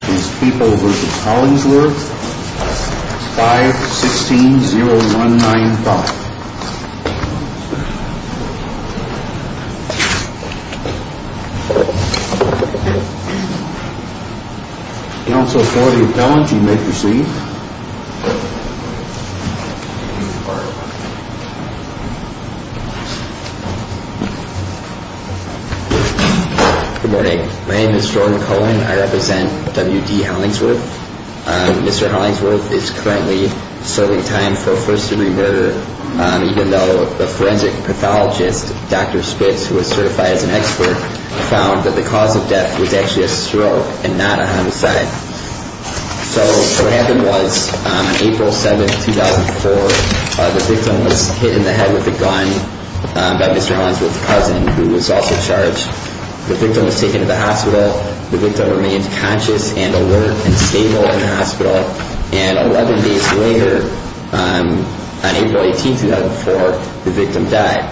This is People v. Hollingsworth, 516-0195. Counsel for the appellant, you may proceed. Good morning. My name is Jordan Cohen. I represent W.D. Hollingsworth. Mr. Hollingsworth is currently serving time for a first-degree murder, even though a forensic pathologist, Dr. Spitz, who is certified as an expert, found that the cause of death was actually a stroke and not a homicide. So what happened was, on April 7, 2004, the victim was hit in the head with a gun by Mr. Hollingsworth's cousin, who was also charged. The victim was taken to the hospital. The victim remained conscious and alert and stable in the hospital. And 11 days later, on April 18, 2004, the victim died.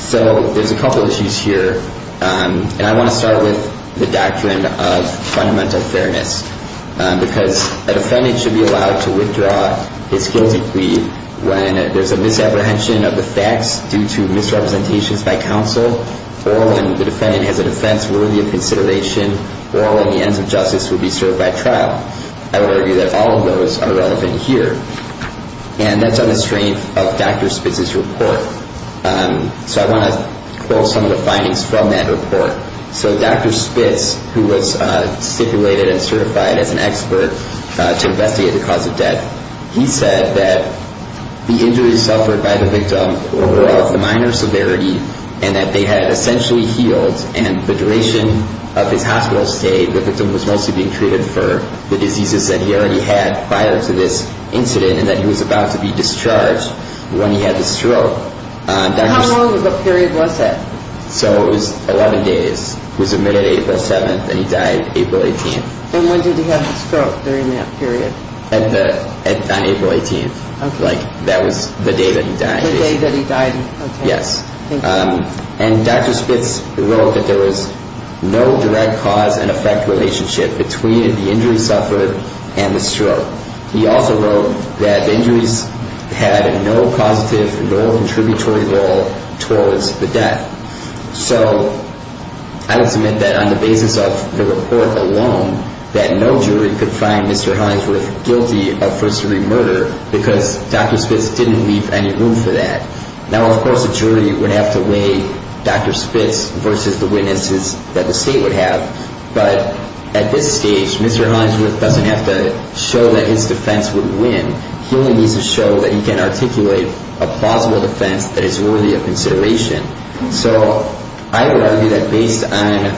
So there's a couple of issues here, and I want to start with the doctrine of fundamental fairness, because a defendant should be allowed to withdraw his guilty plea when there's a misapprehension of the facts due to misrepresentations by counsel, or when the defendant has a defense worthy of consideration, or when the ends of justice would be served by trial. I would argue that all of those are relevant here. And that's on the strength of Dr. Spitz's report. So I want to quote some of the findings from that report. So Dr. Spitz, who was stipulated and certified as an expert to investigate the cause of death, he said that the injuries suffered by the victim were of the minor severity and that they had essentially healed, and the duration of his hospital stay, the victim was mostly being treated for the diseases that he already had prior to this incident. And that he was about to be discharged when he had the stroke. How long of a period was that? So it was 11 days. It was mid-April 7th, and he died April 18th. And when did he have the stroke during that period? On April 18th. Okay. Like, that was the day that he died. The day that he died. Okay. Yes. Thank you. And Dr. Spitz wrote that there was no direct cause and effect relationship between the injury suffered and the stroke. He also wrote that the injuries had no positive, no contributory role towards the death. So I would submit that on the basis of the report alone, that no jury could find Mr. Hinesworth guilty of first-degree murder because Dr. Spitz didn't leave any room for that. Now, of course, a jury would have to weigh Dr. Spitz versus the witnesses that the state would have. But at this stage, Mr. Hinesworth doesn't have to show that his defense would win. He only needs to show that he can articulate a plausible defense that is worthy of consideration. So I would argue that based on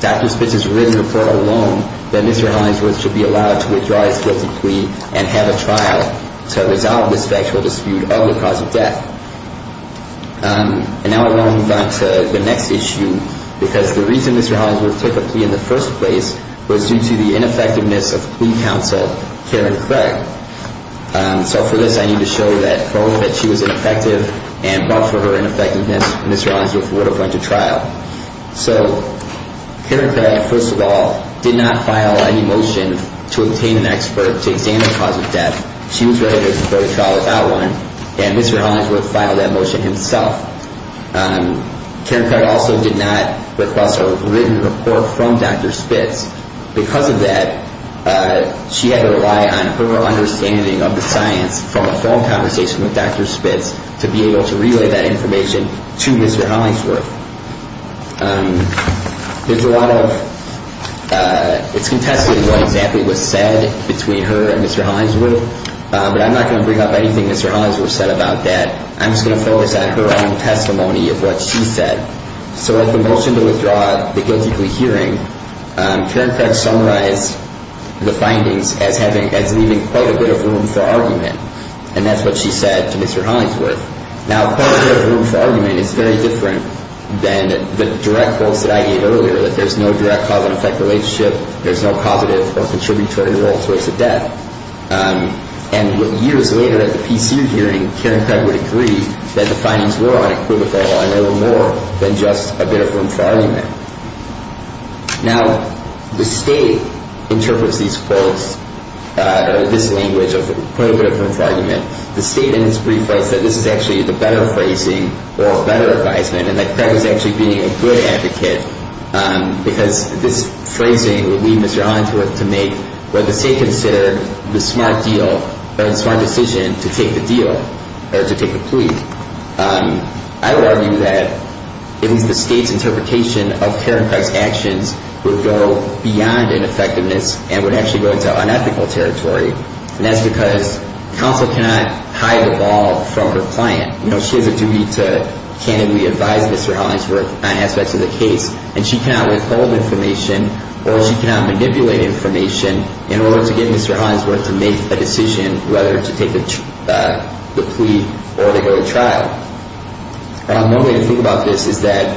Dr. Spitz's written report alone, that Mr. Hinesworth should be allowed to withdraw his guilty plea and have a trial to resolve this factual dispute of the cause of death. And now I want to move on to the next issue, because the reason Mr. Hinesworth took a plea in the first place was due to the ineffectiveness of plea counsel Karen Craig. So for this, I need to show that both that she was ineffective and both for her ineffectiveness, Mr. Hinesworth would have went to trial. So Karen Craig, first of all, did not file any motion to obtain an expert to examine the cause of death. She was ready to go to trial without one. And Mr. Hinesworth filed that motion himself. Karen Craig also did not request a written report from Dr. Spitz. Because of that, she had to rely on her understanding of the science from a phone conversation with Dr. Spitz to be able to relay that information to Mr. Hinesworth. There's a lot of ‑‑ it's contested what exactly was said between her and Mr. Hinesworth, but I'm not going to bring up anything Mr. Hinesworth said about that. I'm just going to focus on her own testimony of what she said. So at the motion to withdraw the guilty plea hearing, Karen Craig summarized the findings as having ‑‑ as leaving quite a bit of room for argument. And that's what she said to Mr. Hinesworth. Now, quite a bit of room for argument is very different than the direct quotes that I gave earlier, that there's no direct cause and effect relationship, there's no causative or contributory role towards the death. And years later at the PCU hearing, Karen Craig would agree that the findings were unequivocal and there were more than just a bit of room for argument. Now, the State interprets these quotes, this language of quite a bit of room for argument. The State in its brief writes that this is actually the better phrasing or better advisement and that Craig was actually being a good advocate. Because this phrasing would lead Mr. Hinesworth to make what the State considered the smart deal or the smart decision to take the deal or to take the plea. I would argue that it was the State's interpretation of Karen Craig's actions would go beyond ineffectiveness and would actually go into unethical territory. And that's because counsel cannot hide the ball from her client. You know, she has a duty to candidly advise Mr. Hinesworth on aspects of the case. And she cannot withhold information or she cannot manipulate information in order to get Mr. Hinesworth to make a decision whether to take the plea or to go to trial. One way to think about this is that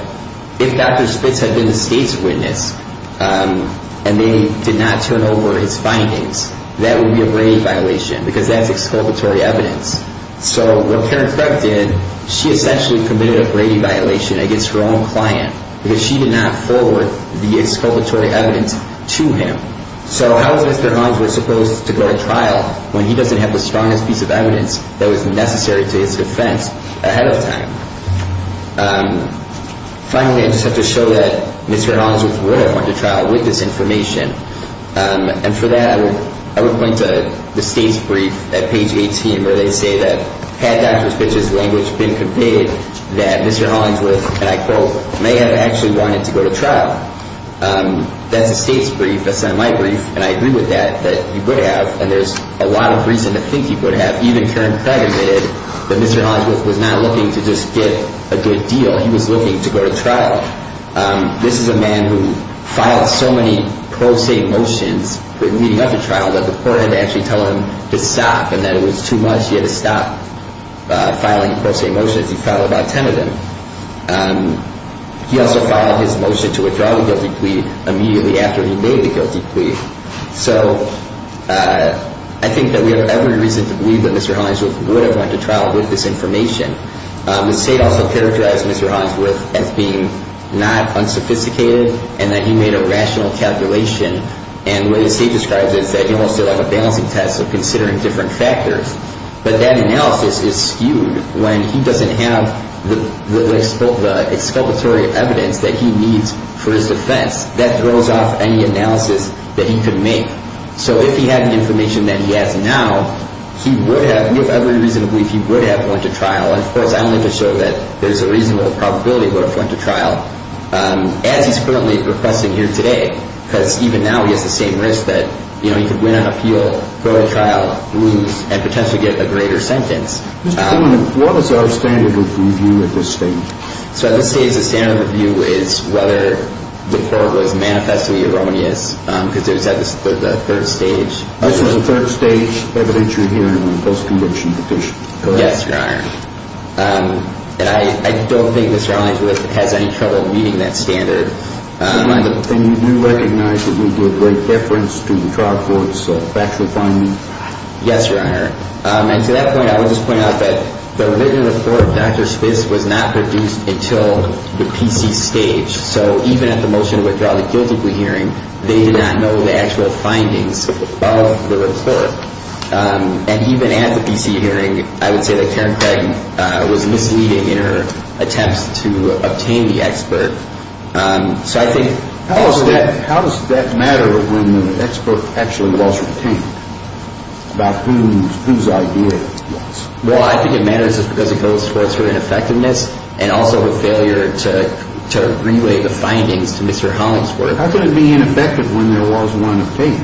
if Dr. Spitz had been the State's witness and they did not turn over his findings, that would be a grave violation because that's exculpatory evidence. So what Karen Craig did, she essentially committed a grave violation against her own client because she did not forward the exculpatory evidence to him. So how is Mr. Hinesworth supposed to go to trial when he doesn't have the strongest piece of evidence that was necessary to his defense ahead of time? Finally, I just have to show that Mr. Hinesworth would have gone to trial with this information. And for that, I would point to the State's brief at page 18 where they say that had Dr. Spitz's language been conveyed, that Mr. Hinesworth, and I quote, may have actually wanted to go to trial. That's the State's brief. That's not my brief. And I agree with that, that he would have. And there's a lot of reason to think he would have. Even Karen Craig admitted that Mr. Hinesworth was not looking to just get a good deal. He was looking to go to trial. This is a man who filed so many pro se motions leading up to trial that the court had to actually tell him to stop and that it was too much. He had to stop filing pro se motions. He filed about 10 of them. He also filed his motion to withdraw the guilty plea immediately after he made the guilty plea. So I think that we have every reason to believe that Mr. Hinesworth would have went to trial with this information. The State also characterized Mr. Hinesworth as being not unsophisticated and that he made a rational calculation. And what the State describes is that he also had a balancing test of considering different factors. But that analysis is skewed when he doesn't have the exculpatory evidence that he needs for his defense. That throws off any analysis that he could make. So if he had the information that he has now, we have every reason to believe he would have went to trial. And, of course, I'm going to show that there's a reasonable probability he would have went to trial, as he's currently requesting here today. Because even now he has the same risk that he could win an appeal, go to trial, lose, and potentially get a greater sentence. What is our standard of review at this stage? So at this stage, the standard of review is whether the court was manifestly erroneous, because it was at the third stage. This was a third stage evidence you're hearing on a post-conviction petition, correct? Yes, Your Honor. And I don't think Mr. Hinesworth has any trouble meeting that standard. And you do recognize that we do a great difference to the trial court's factual findings? Yes, Your Honor. And to that point, I would just point out that the written report of Dr. Spitz was not produced until the PC stage. So even at the motion to withdraw the guilty plea hearing, they did not know the actual findings of the report. And even at the PC hearing, I would say that Karen Craig was misleading in her attempts to obtain the expert. How does that matter when the expert actually was obtained, about whose idea it was? Well, I think it matters because it goes towards her ineffectiveness and also her failure to relay the findings to Mr. Hinesworth. How could it be ineffective when there was one obtained?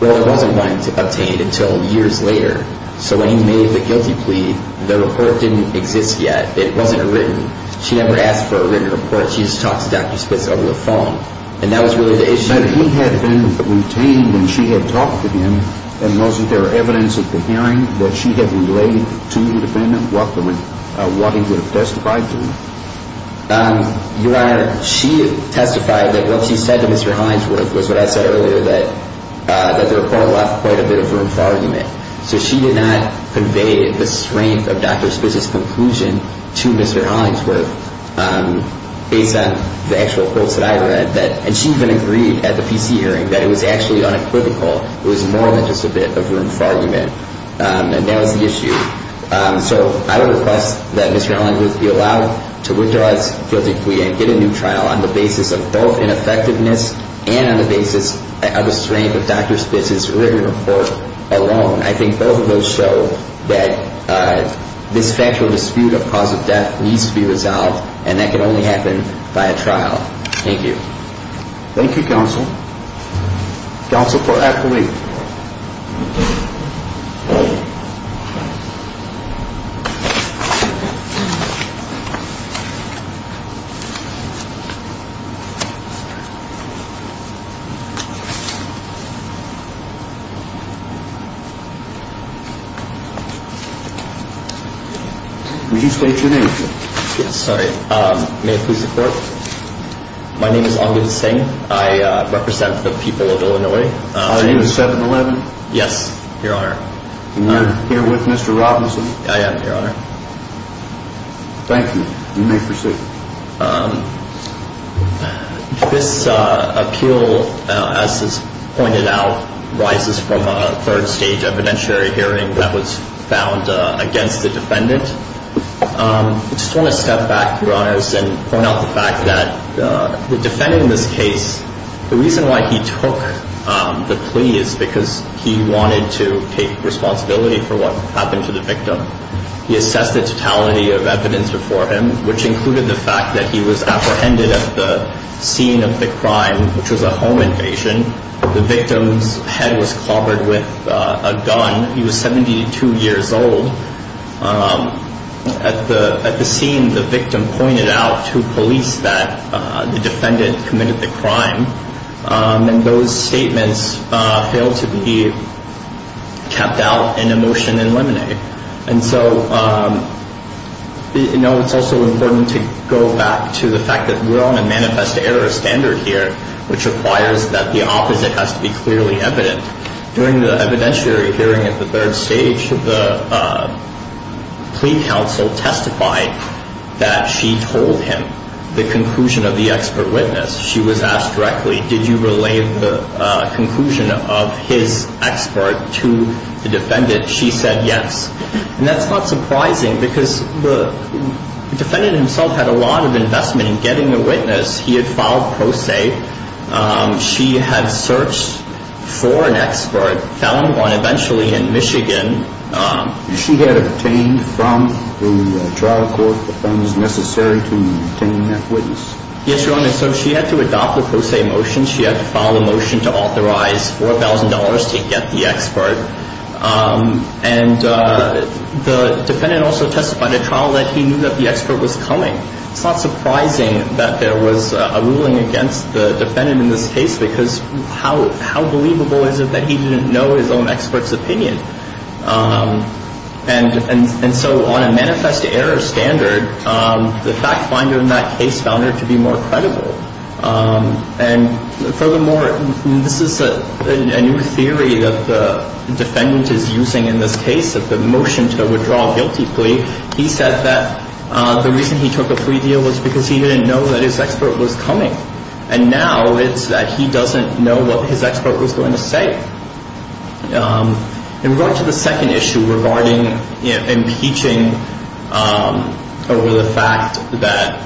Well, there wasn't one obtained until years later. So when he made the guilty plea, the report didn't exist yet. It wasn't written. She never asked for a written report. She just talked to Dr. Spitz over the phone. And that was really the issue. But he had been retained when she had talked to him. And wasn't there evidence at the hearing that she had relayed to the defendant what he would have testified to? Your Honor, she testified that what she said to Mr. Hinesworth was what I said earlier, that the report left quite a bit of room for argument. So she did not convey the strength of Dr. Spitz's conclusion to Mr. Hinesworth based on the actual quotes that I read. And she even agreed at the PC hearing that it was actually unequivocal. It was more than just a bit of room for argument. And that was the issue. So I would request that Mr. Hinesworth be allowed to withdraw his guilty plea and get a new trial on the basis of both ineffectiveness and on the basis of a strength of Dr. Spitz's written report alone. I think both of those show that this factual dispute of cause of death needs to be resolved. And that can only happen by a trial. Thank you. Thank you, counsel. Counsel for Appellee. Would you state your name, please? Sorry. May I please report? My name is Angud Singh. I represent the people of Illinois. Are you a 7-11? Yes, Your Honor. And you're here with Mr. Robinson? I am, Your Honor. Thank you. You may proceed. This appeal, as is pointed out, rises from a third-stage evidentiary hearing that was found against the defendant. I just want to step back, Your Honors, and point out the fact that the defendant in this case, the reason why he took the plea is because he wanted to take responsibility for what happened to the victim. He assessed the totality of evidence before him, which included the fact that he was apprehended at the scene of the crime, which was a home invasion. The victim's head was clobbered with a gun. He was 72 years old. At the scene, the victim pointed out to police that the defendant committed the crime, and those statements failed to be kept out in a motion in limine. And so, you know, it's also important to go back to the fact that we're on a manifest error standard here, which requires that the opposite has to be clearly evident. During the evidentiary hearing at the third stage, the plea counsel testified that she told him the conclusion of the expert witness. She was asked directly, did you relay the conclusion of his expert to the defendant? She said yes. And that's not surprising because the defendant himself had a lot of investment in getting a witness. He had filed pro se. She had searched for an expert, found one eventually in Michigan. She had obtained from the trial court the funds necessary to obtain that witness? Yes, Your Honor. So she had to adopt the pro se motion. She had to file a motion to authorize $4,000 to get the expert. And the defendant also testified at trial that he knew that the expert was coming. It's not surprising that there was a ruling against the defendant in this case because how believable is it that he didn't know his own expert's opinion? And so on a manifest error standard, the fact finder in that case found her to be more credible. And furthermore, this is a new theory that the defendant is using in this case of the motion to withdraw a guilty plea. He said that the reason he took a plea deal was because he didn't know that his expert was coming. And now it's that he doesn't know what his expert was going to say. In regard to the second issue regarding impeaching over the fact that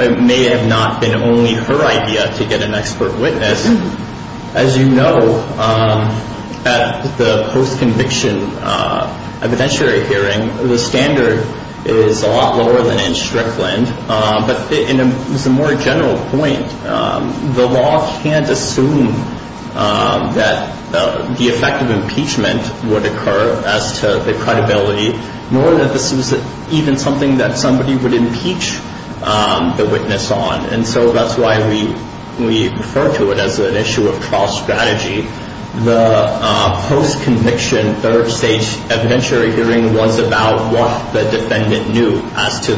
it may have not been only her idea to get an expert witness, as you know, at the post-conviction evidentiary hearing, the standard is a lot lower than in Strickland. But in a more general point, the law can't assume that the effect of impeachment would occur as to the credibility, nor that this was even something that somebody would impeach the witness on. And so that's why we refer to it as an issue of trial strategy. The post-conviction third stage evidentiary hearing was about what the defendant knew as to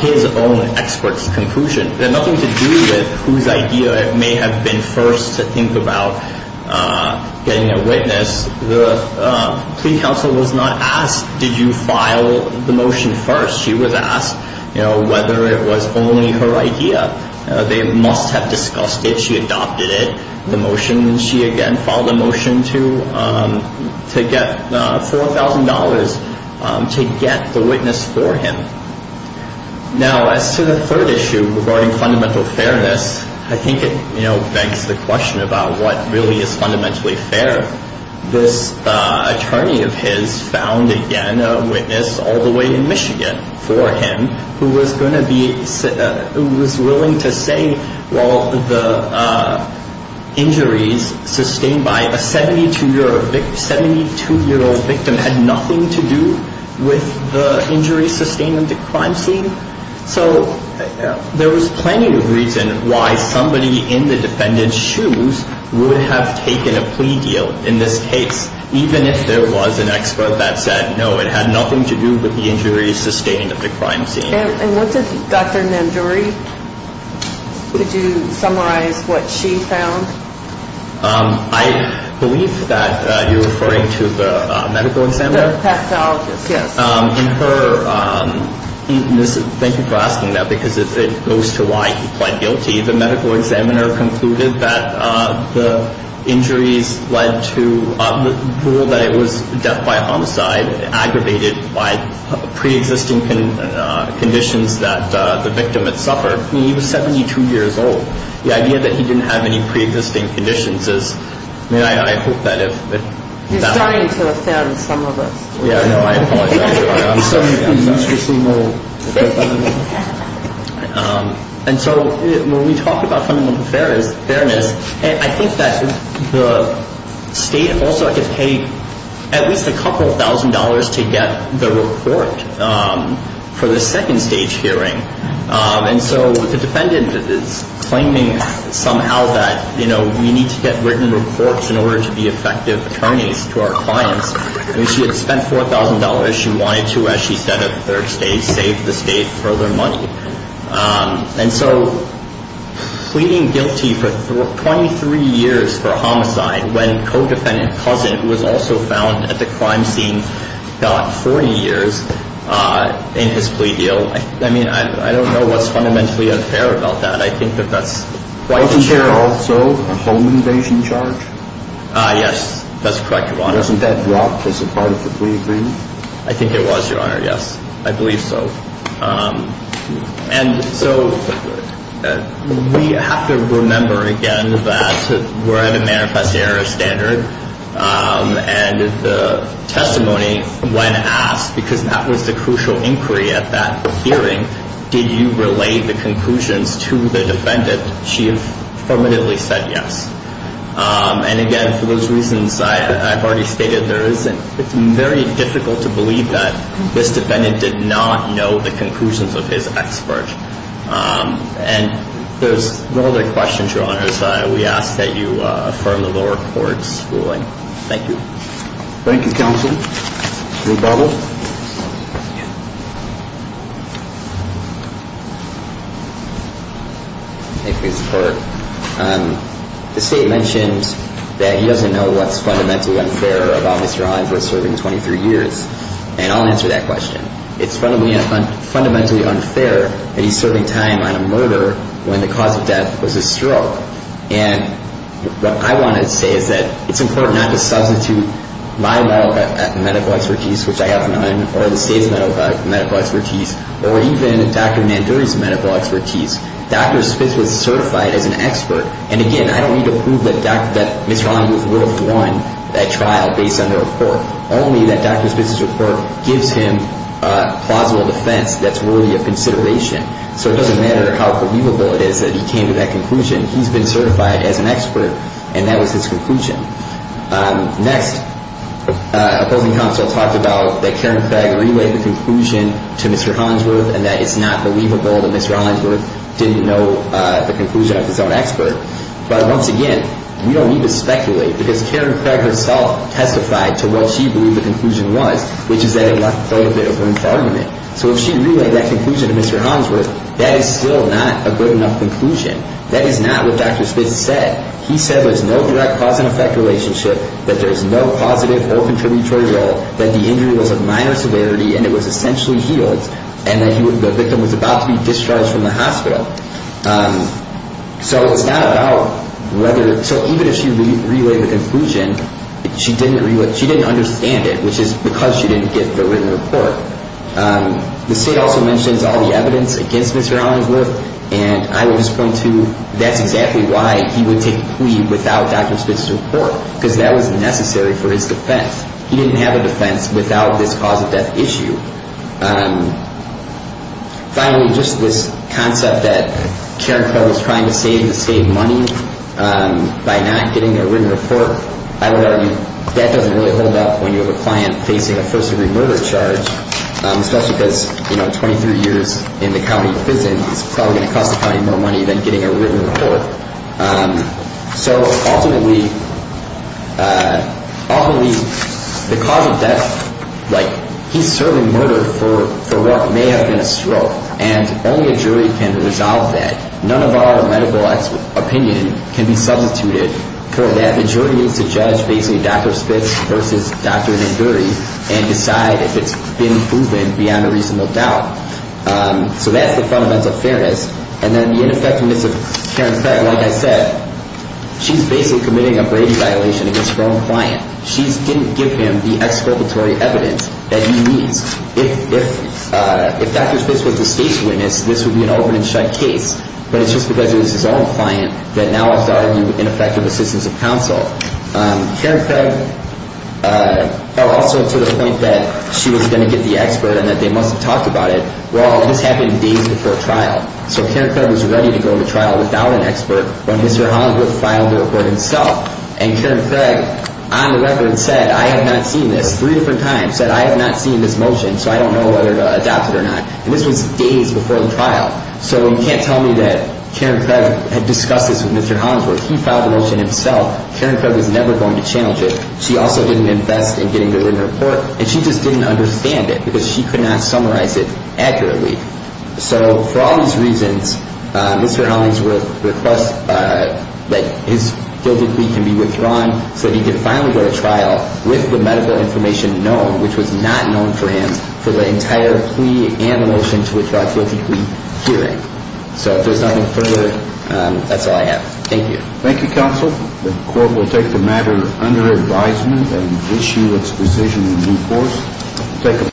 his own expert's conclusion. It had nothing to do with whose idea it may have been first to think about getting a witness. The plea counsel was not asked, did you file the motion first? She was asked whether it was only her idea. They must have discussed it. She adopted it. The motion, she again filed a motion to get $4,000 to get the witness for him. Now, as to the third issue regarding fundamental fairness, I think it begs the question about what really is fundamentally fair. This attorney of his found, again, a witness all the way in Michigan for him who was willing to say, well, the injuries sustained by a 72-year-old victim had nothing to do with the injuries sustained in the crime scene. So there was plenty of reason why somebody in the defendant's shoes would have taken a plea deal in this case, even if there was an expert that said, no, it had nothing to do with the injuries sustained in the crime scene. And what did Dr. Nanduri, could you summarize what she found? I believe that you're referring to the medical examiner? The pathologist, yes. Thank you for asking that, because it goes to why he pled guilty. The medical examiner concluded that the injuries led to the rule that it was death by homicide, aggravated by preexisting conditions that the victim had suffered. I mean, he was 72 years old. The idea that he didn't have any preexisting conditions is, I mean, I hope that if- He's starting to offend some of us. Yeah, no, I apologize. And so when we talk about fundamental fairness, I think that the state also could pay at least a couple of thousand dollars to get the report for the second stage hearing. And so the defendant is claiming somehow that, you know, we need to get written reports in order to be effective attorneys to our clients. I mean, she had spent $4,000. She wanted to, as she said, at the third stage, save the state further money. And so pleading guilty for 23 years for homicide when co-defendant Cousin, who was also found at the crime scene, got 40 years in his plea deal. I mean, I don't know what's fundamentally unfair about that. I think that that's quite unfair. Is there also a home invasion charge? Yes, that's correct, Your Honor. And wasn't that dropped as a part of the plea agreement? I think it was, Your Honor. Yes, I believe so. And so we have to remember, again, that we're at a manifest error standard. And the testimony, when asked, because that was the crucial inquiry at that hearing, did you relay the conclusions to the defendant? She affirmatively said yes. And, again, for those reasons I've already stated, it's very difficult to believe that this defendant did not know the conclusions of his expert. And there's no other questions, Your Honors. We ask that you affirm the lower court's ruling. Thank you. Thank you, Counsel. Rebuttal. Thank you. Thank you for your support. The State mentioned that he doesn't know what's fundamentally unfair about Mr. Hines was serving 23 years. And I'll answer that question. It's fundamentally unfair that he's serving time on a murder when the cause of death was a stroke. And what I want to say is that it's important not to substitute my medical expertise, which I have none, or the State's medical expertise, or even Dr. Manduri's medical expertise. Dr. Spitz was certified as an expert. And, again, I don't need to prove that Mr. Hines was worth one at trial based on the report, only that Dr. Spitz's report gives him plausible defense that's worthy of consideration. So it doesn't matter how believable it is that he came to that conclusion. He's been certified as an expert, and that was his conclusion. Next, opposing counsel talked about that Karen Craig relayed the conclusion to Mr. Hollingsworth and that it's not believable that Mr. Hollingsworth didn't know the conclusion of his own expert. But, once again, we don't need to speculate because Karen Craig herself testified to what she believed the conclusion was, which is that it was a bit of a loose argument. So if she relayed that conclusion to Mr. Hollingsworth, that is still not a good enough conclusion. That is not what Dr. Spitz said. He said there's no direct cause and effect relationship, that there's no positive or contributory role, that the injury was of minor severity and it was essentially healed, and that the victim was about to be discharged from the hospital. So it's not about whether – so even if she relayed the conclusion, she didn't understand it, which is because she didn't get the written report. The state also mentions all the evidence against Mr. Hollingsworth, and I would just point to that's exactly why he would take a plea without Dr. Spitz's report, because that was necessary for his defense. He didn't have a defense without this cause of death issue. Finally, just this concept that Karen Craig was trying to save the state money by not getting a written report, I would argue that doesn't really hold up when you have a client facing a first-degree murder charge, especially because 23 years in the county prison is probably going to cost the county more money than getting a written report. So ultimately, the cause of death, like he's serving murder for what may have been a stroke, and only a jury can resolve that. None of our medical opinion can be substituted for that. And the jury needs to judge basically Dr. Spitz versus Dr. Nanduri and decide if it's been proven beyond a reasonable doubt. So that's the fundamental fairness. And then the ineffectiveness of Karen Craig, like I said, she's basically committing a Brady violation against her own client. She didn't give him the exculpatory evidence that he needs. If Dr. Spitz was the state's witness, this would be an open-and-shut case, but it's just because it was his own client that now has to argue ineffective assistance of counsel. Karen Craig fell also to the point that she was going to get the expert and that they must have talked about it. Well, this happened days before trial. So Karen Craig was ready to go to trial without an expert when Mr. Hollingworth filed the report himself. And Karen Craig, on the record, said, I have not seen this three different times, said, I have not seen this motion, so I don't know whether to adopt it or not. And this was days before the trial. So you can't tell me that Karen Craig had discussed this with Mr. Hollingsworth. He filed the motion himself. Karen Craig was never going to challenge it. She also didn't invest in getting the written report. And she just didn't understand it because she could not summarize it accurately. So for all these reasons, Mr. Hollingsworth requests that his guilty plea can be withdrawn so that he can finally go to trial with the medical information known, which was not known for him, for the entire plea and the motion to withdraw a guilty plea hearing. So if there's nothing further, that's all I have. Thank you. Thank you, counsel. The court will take the matter under advisement and issue its decision in due course. Thank you.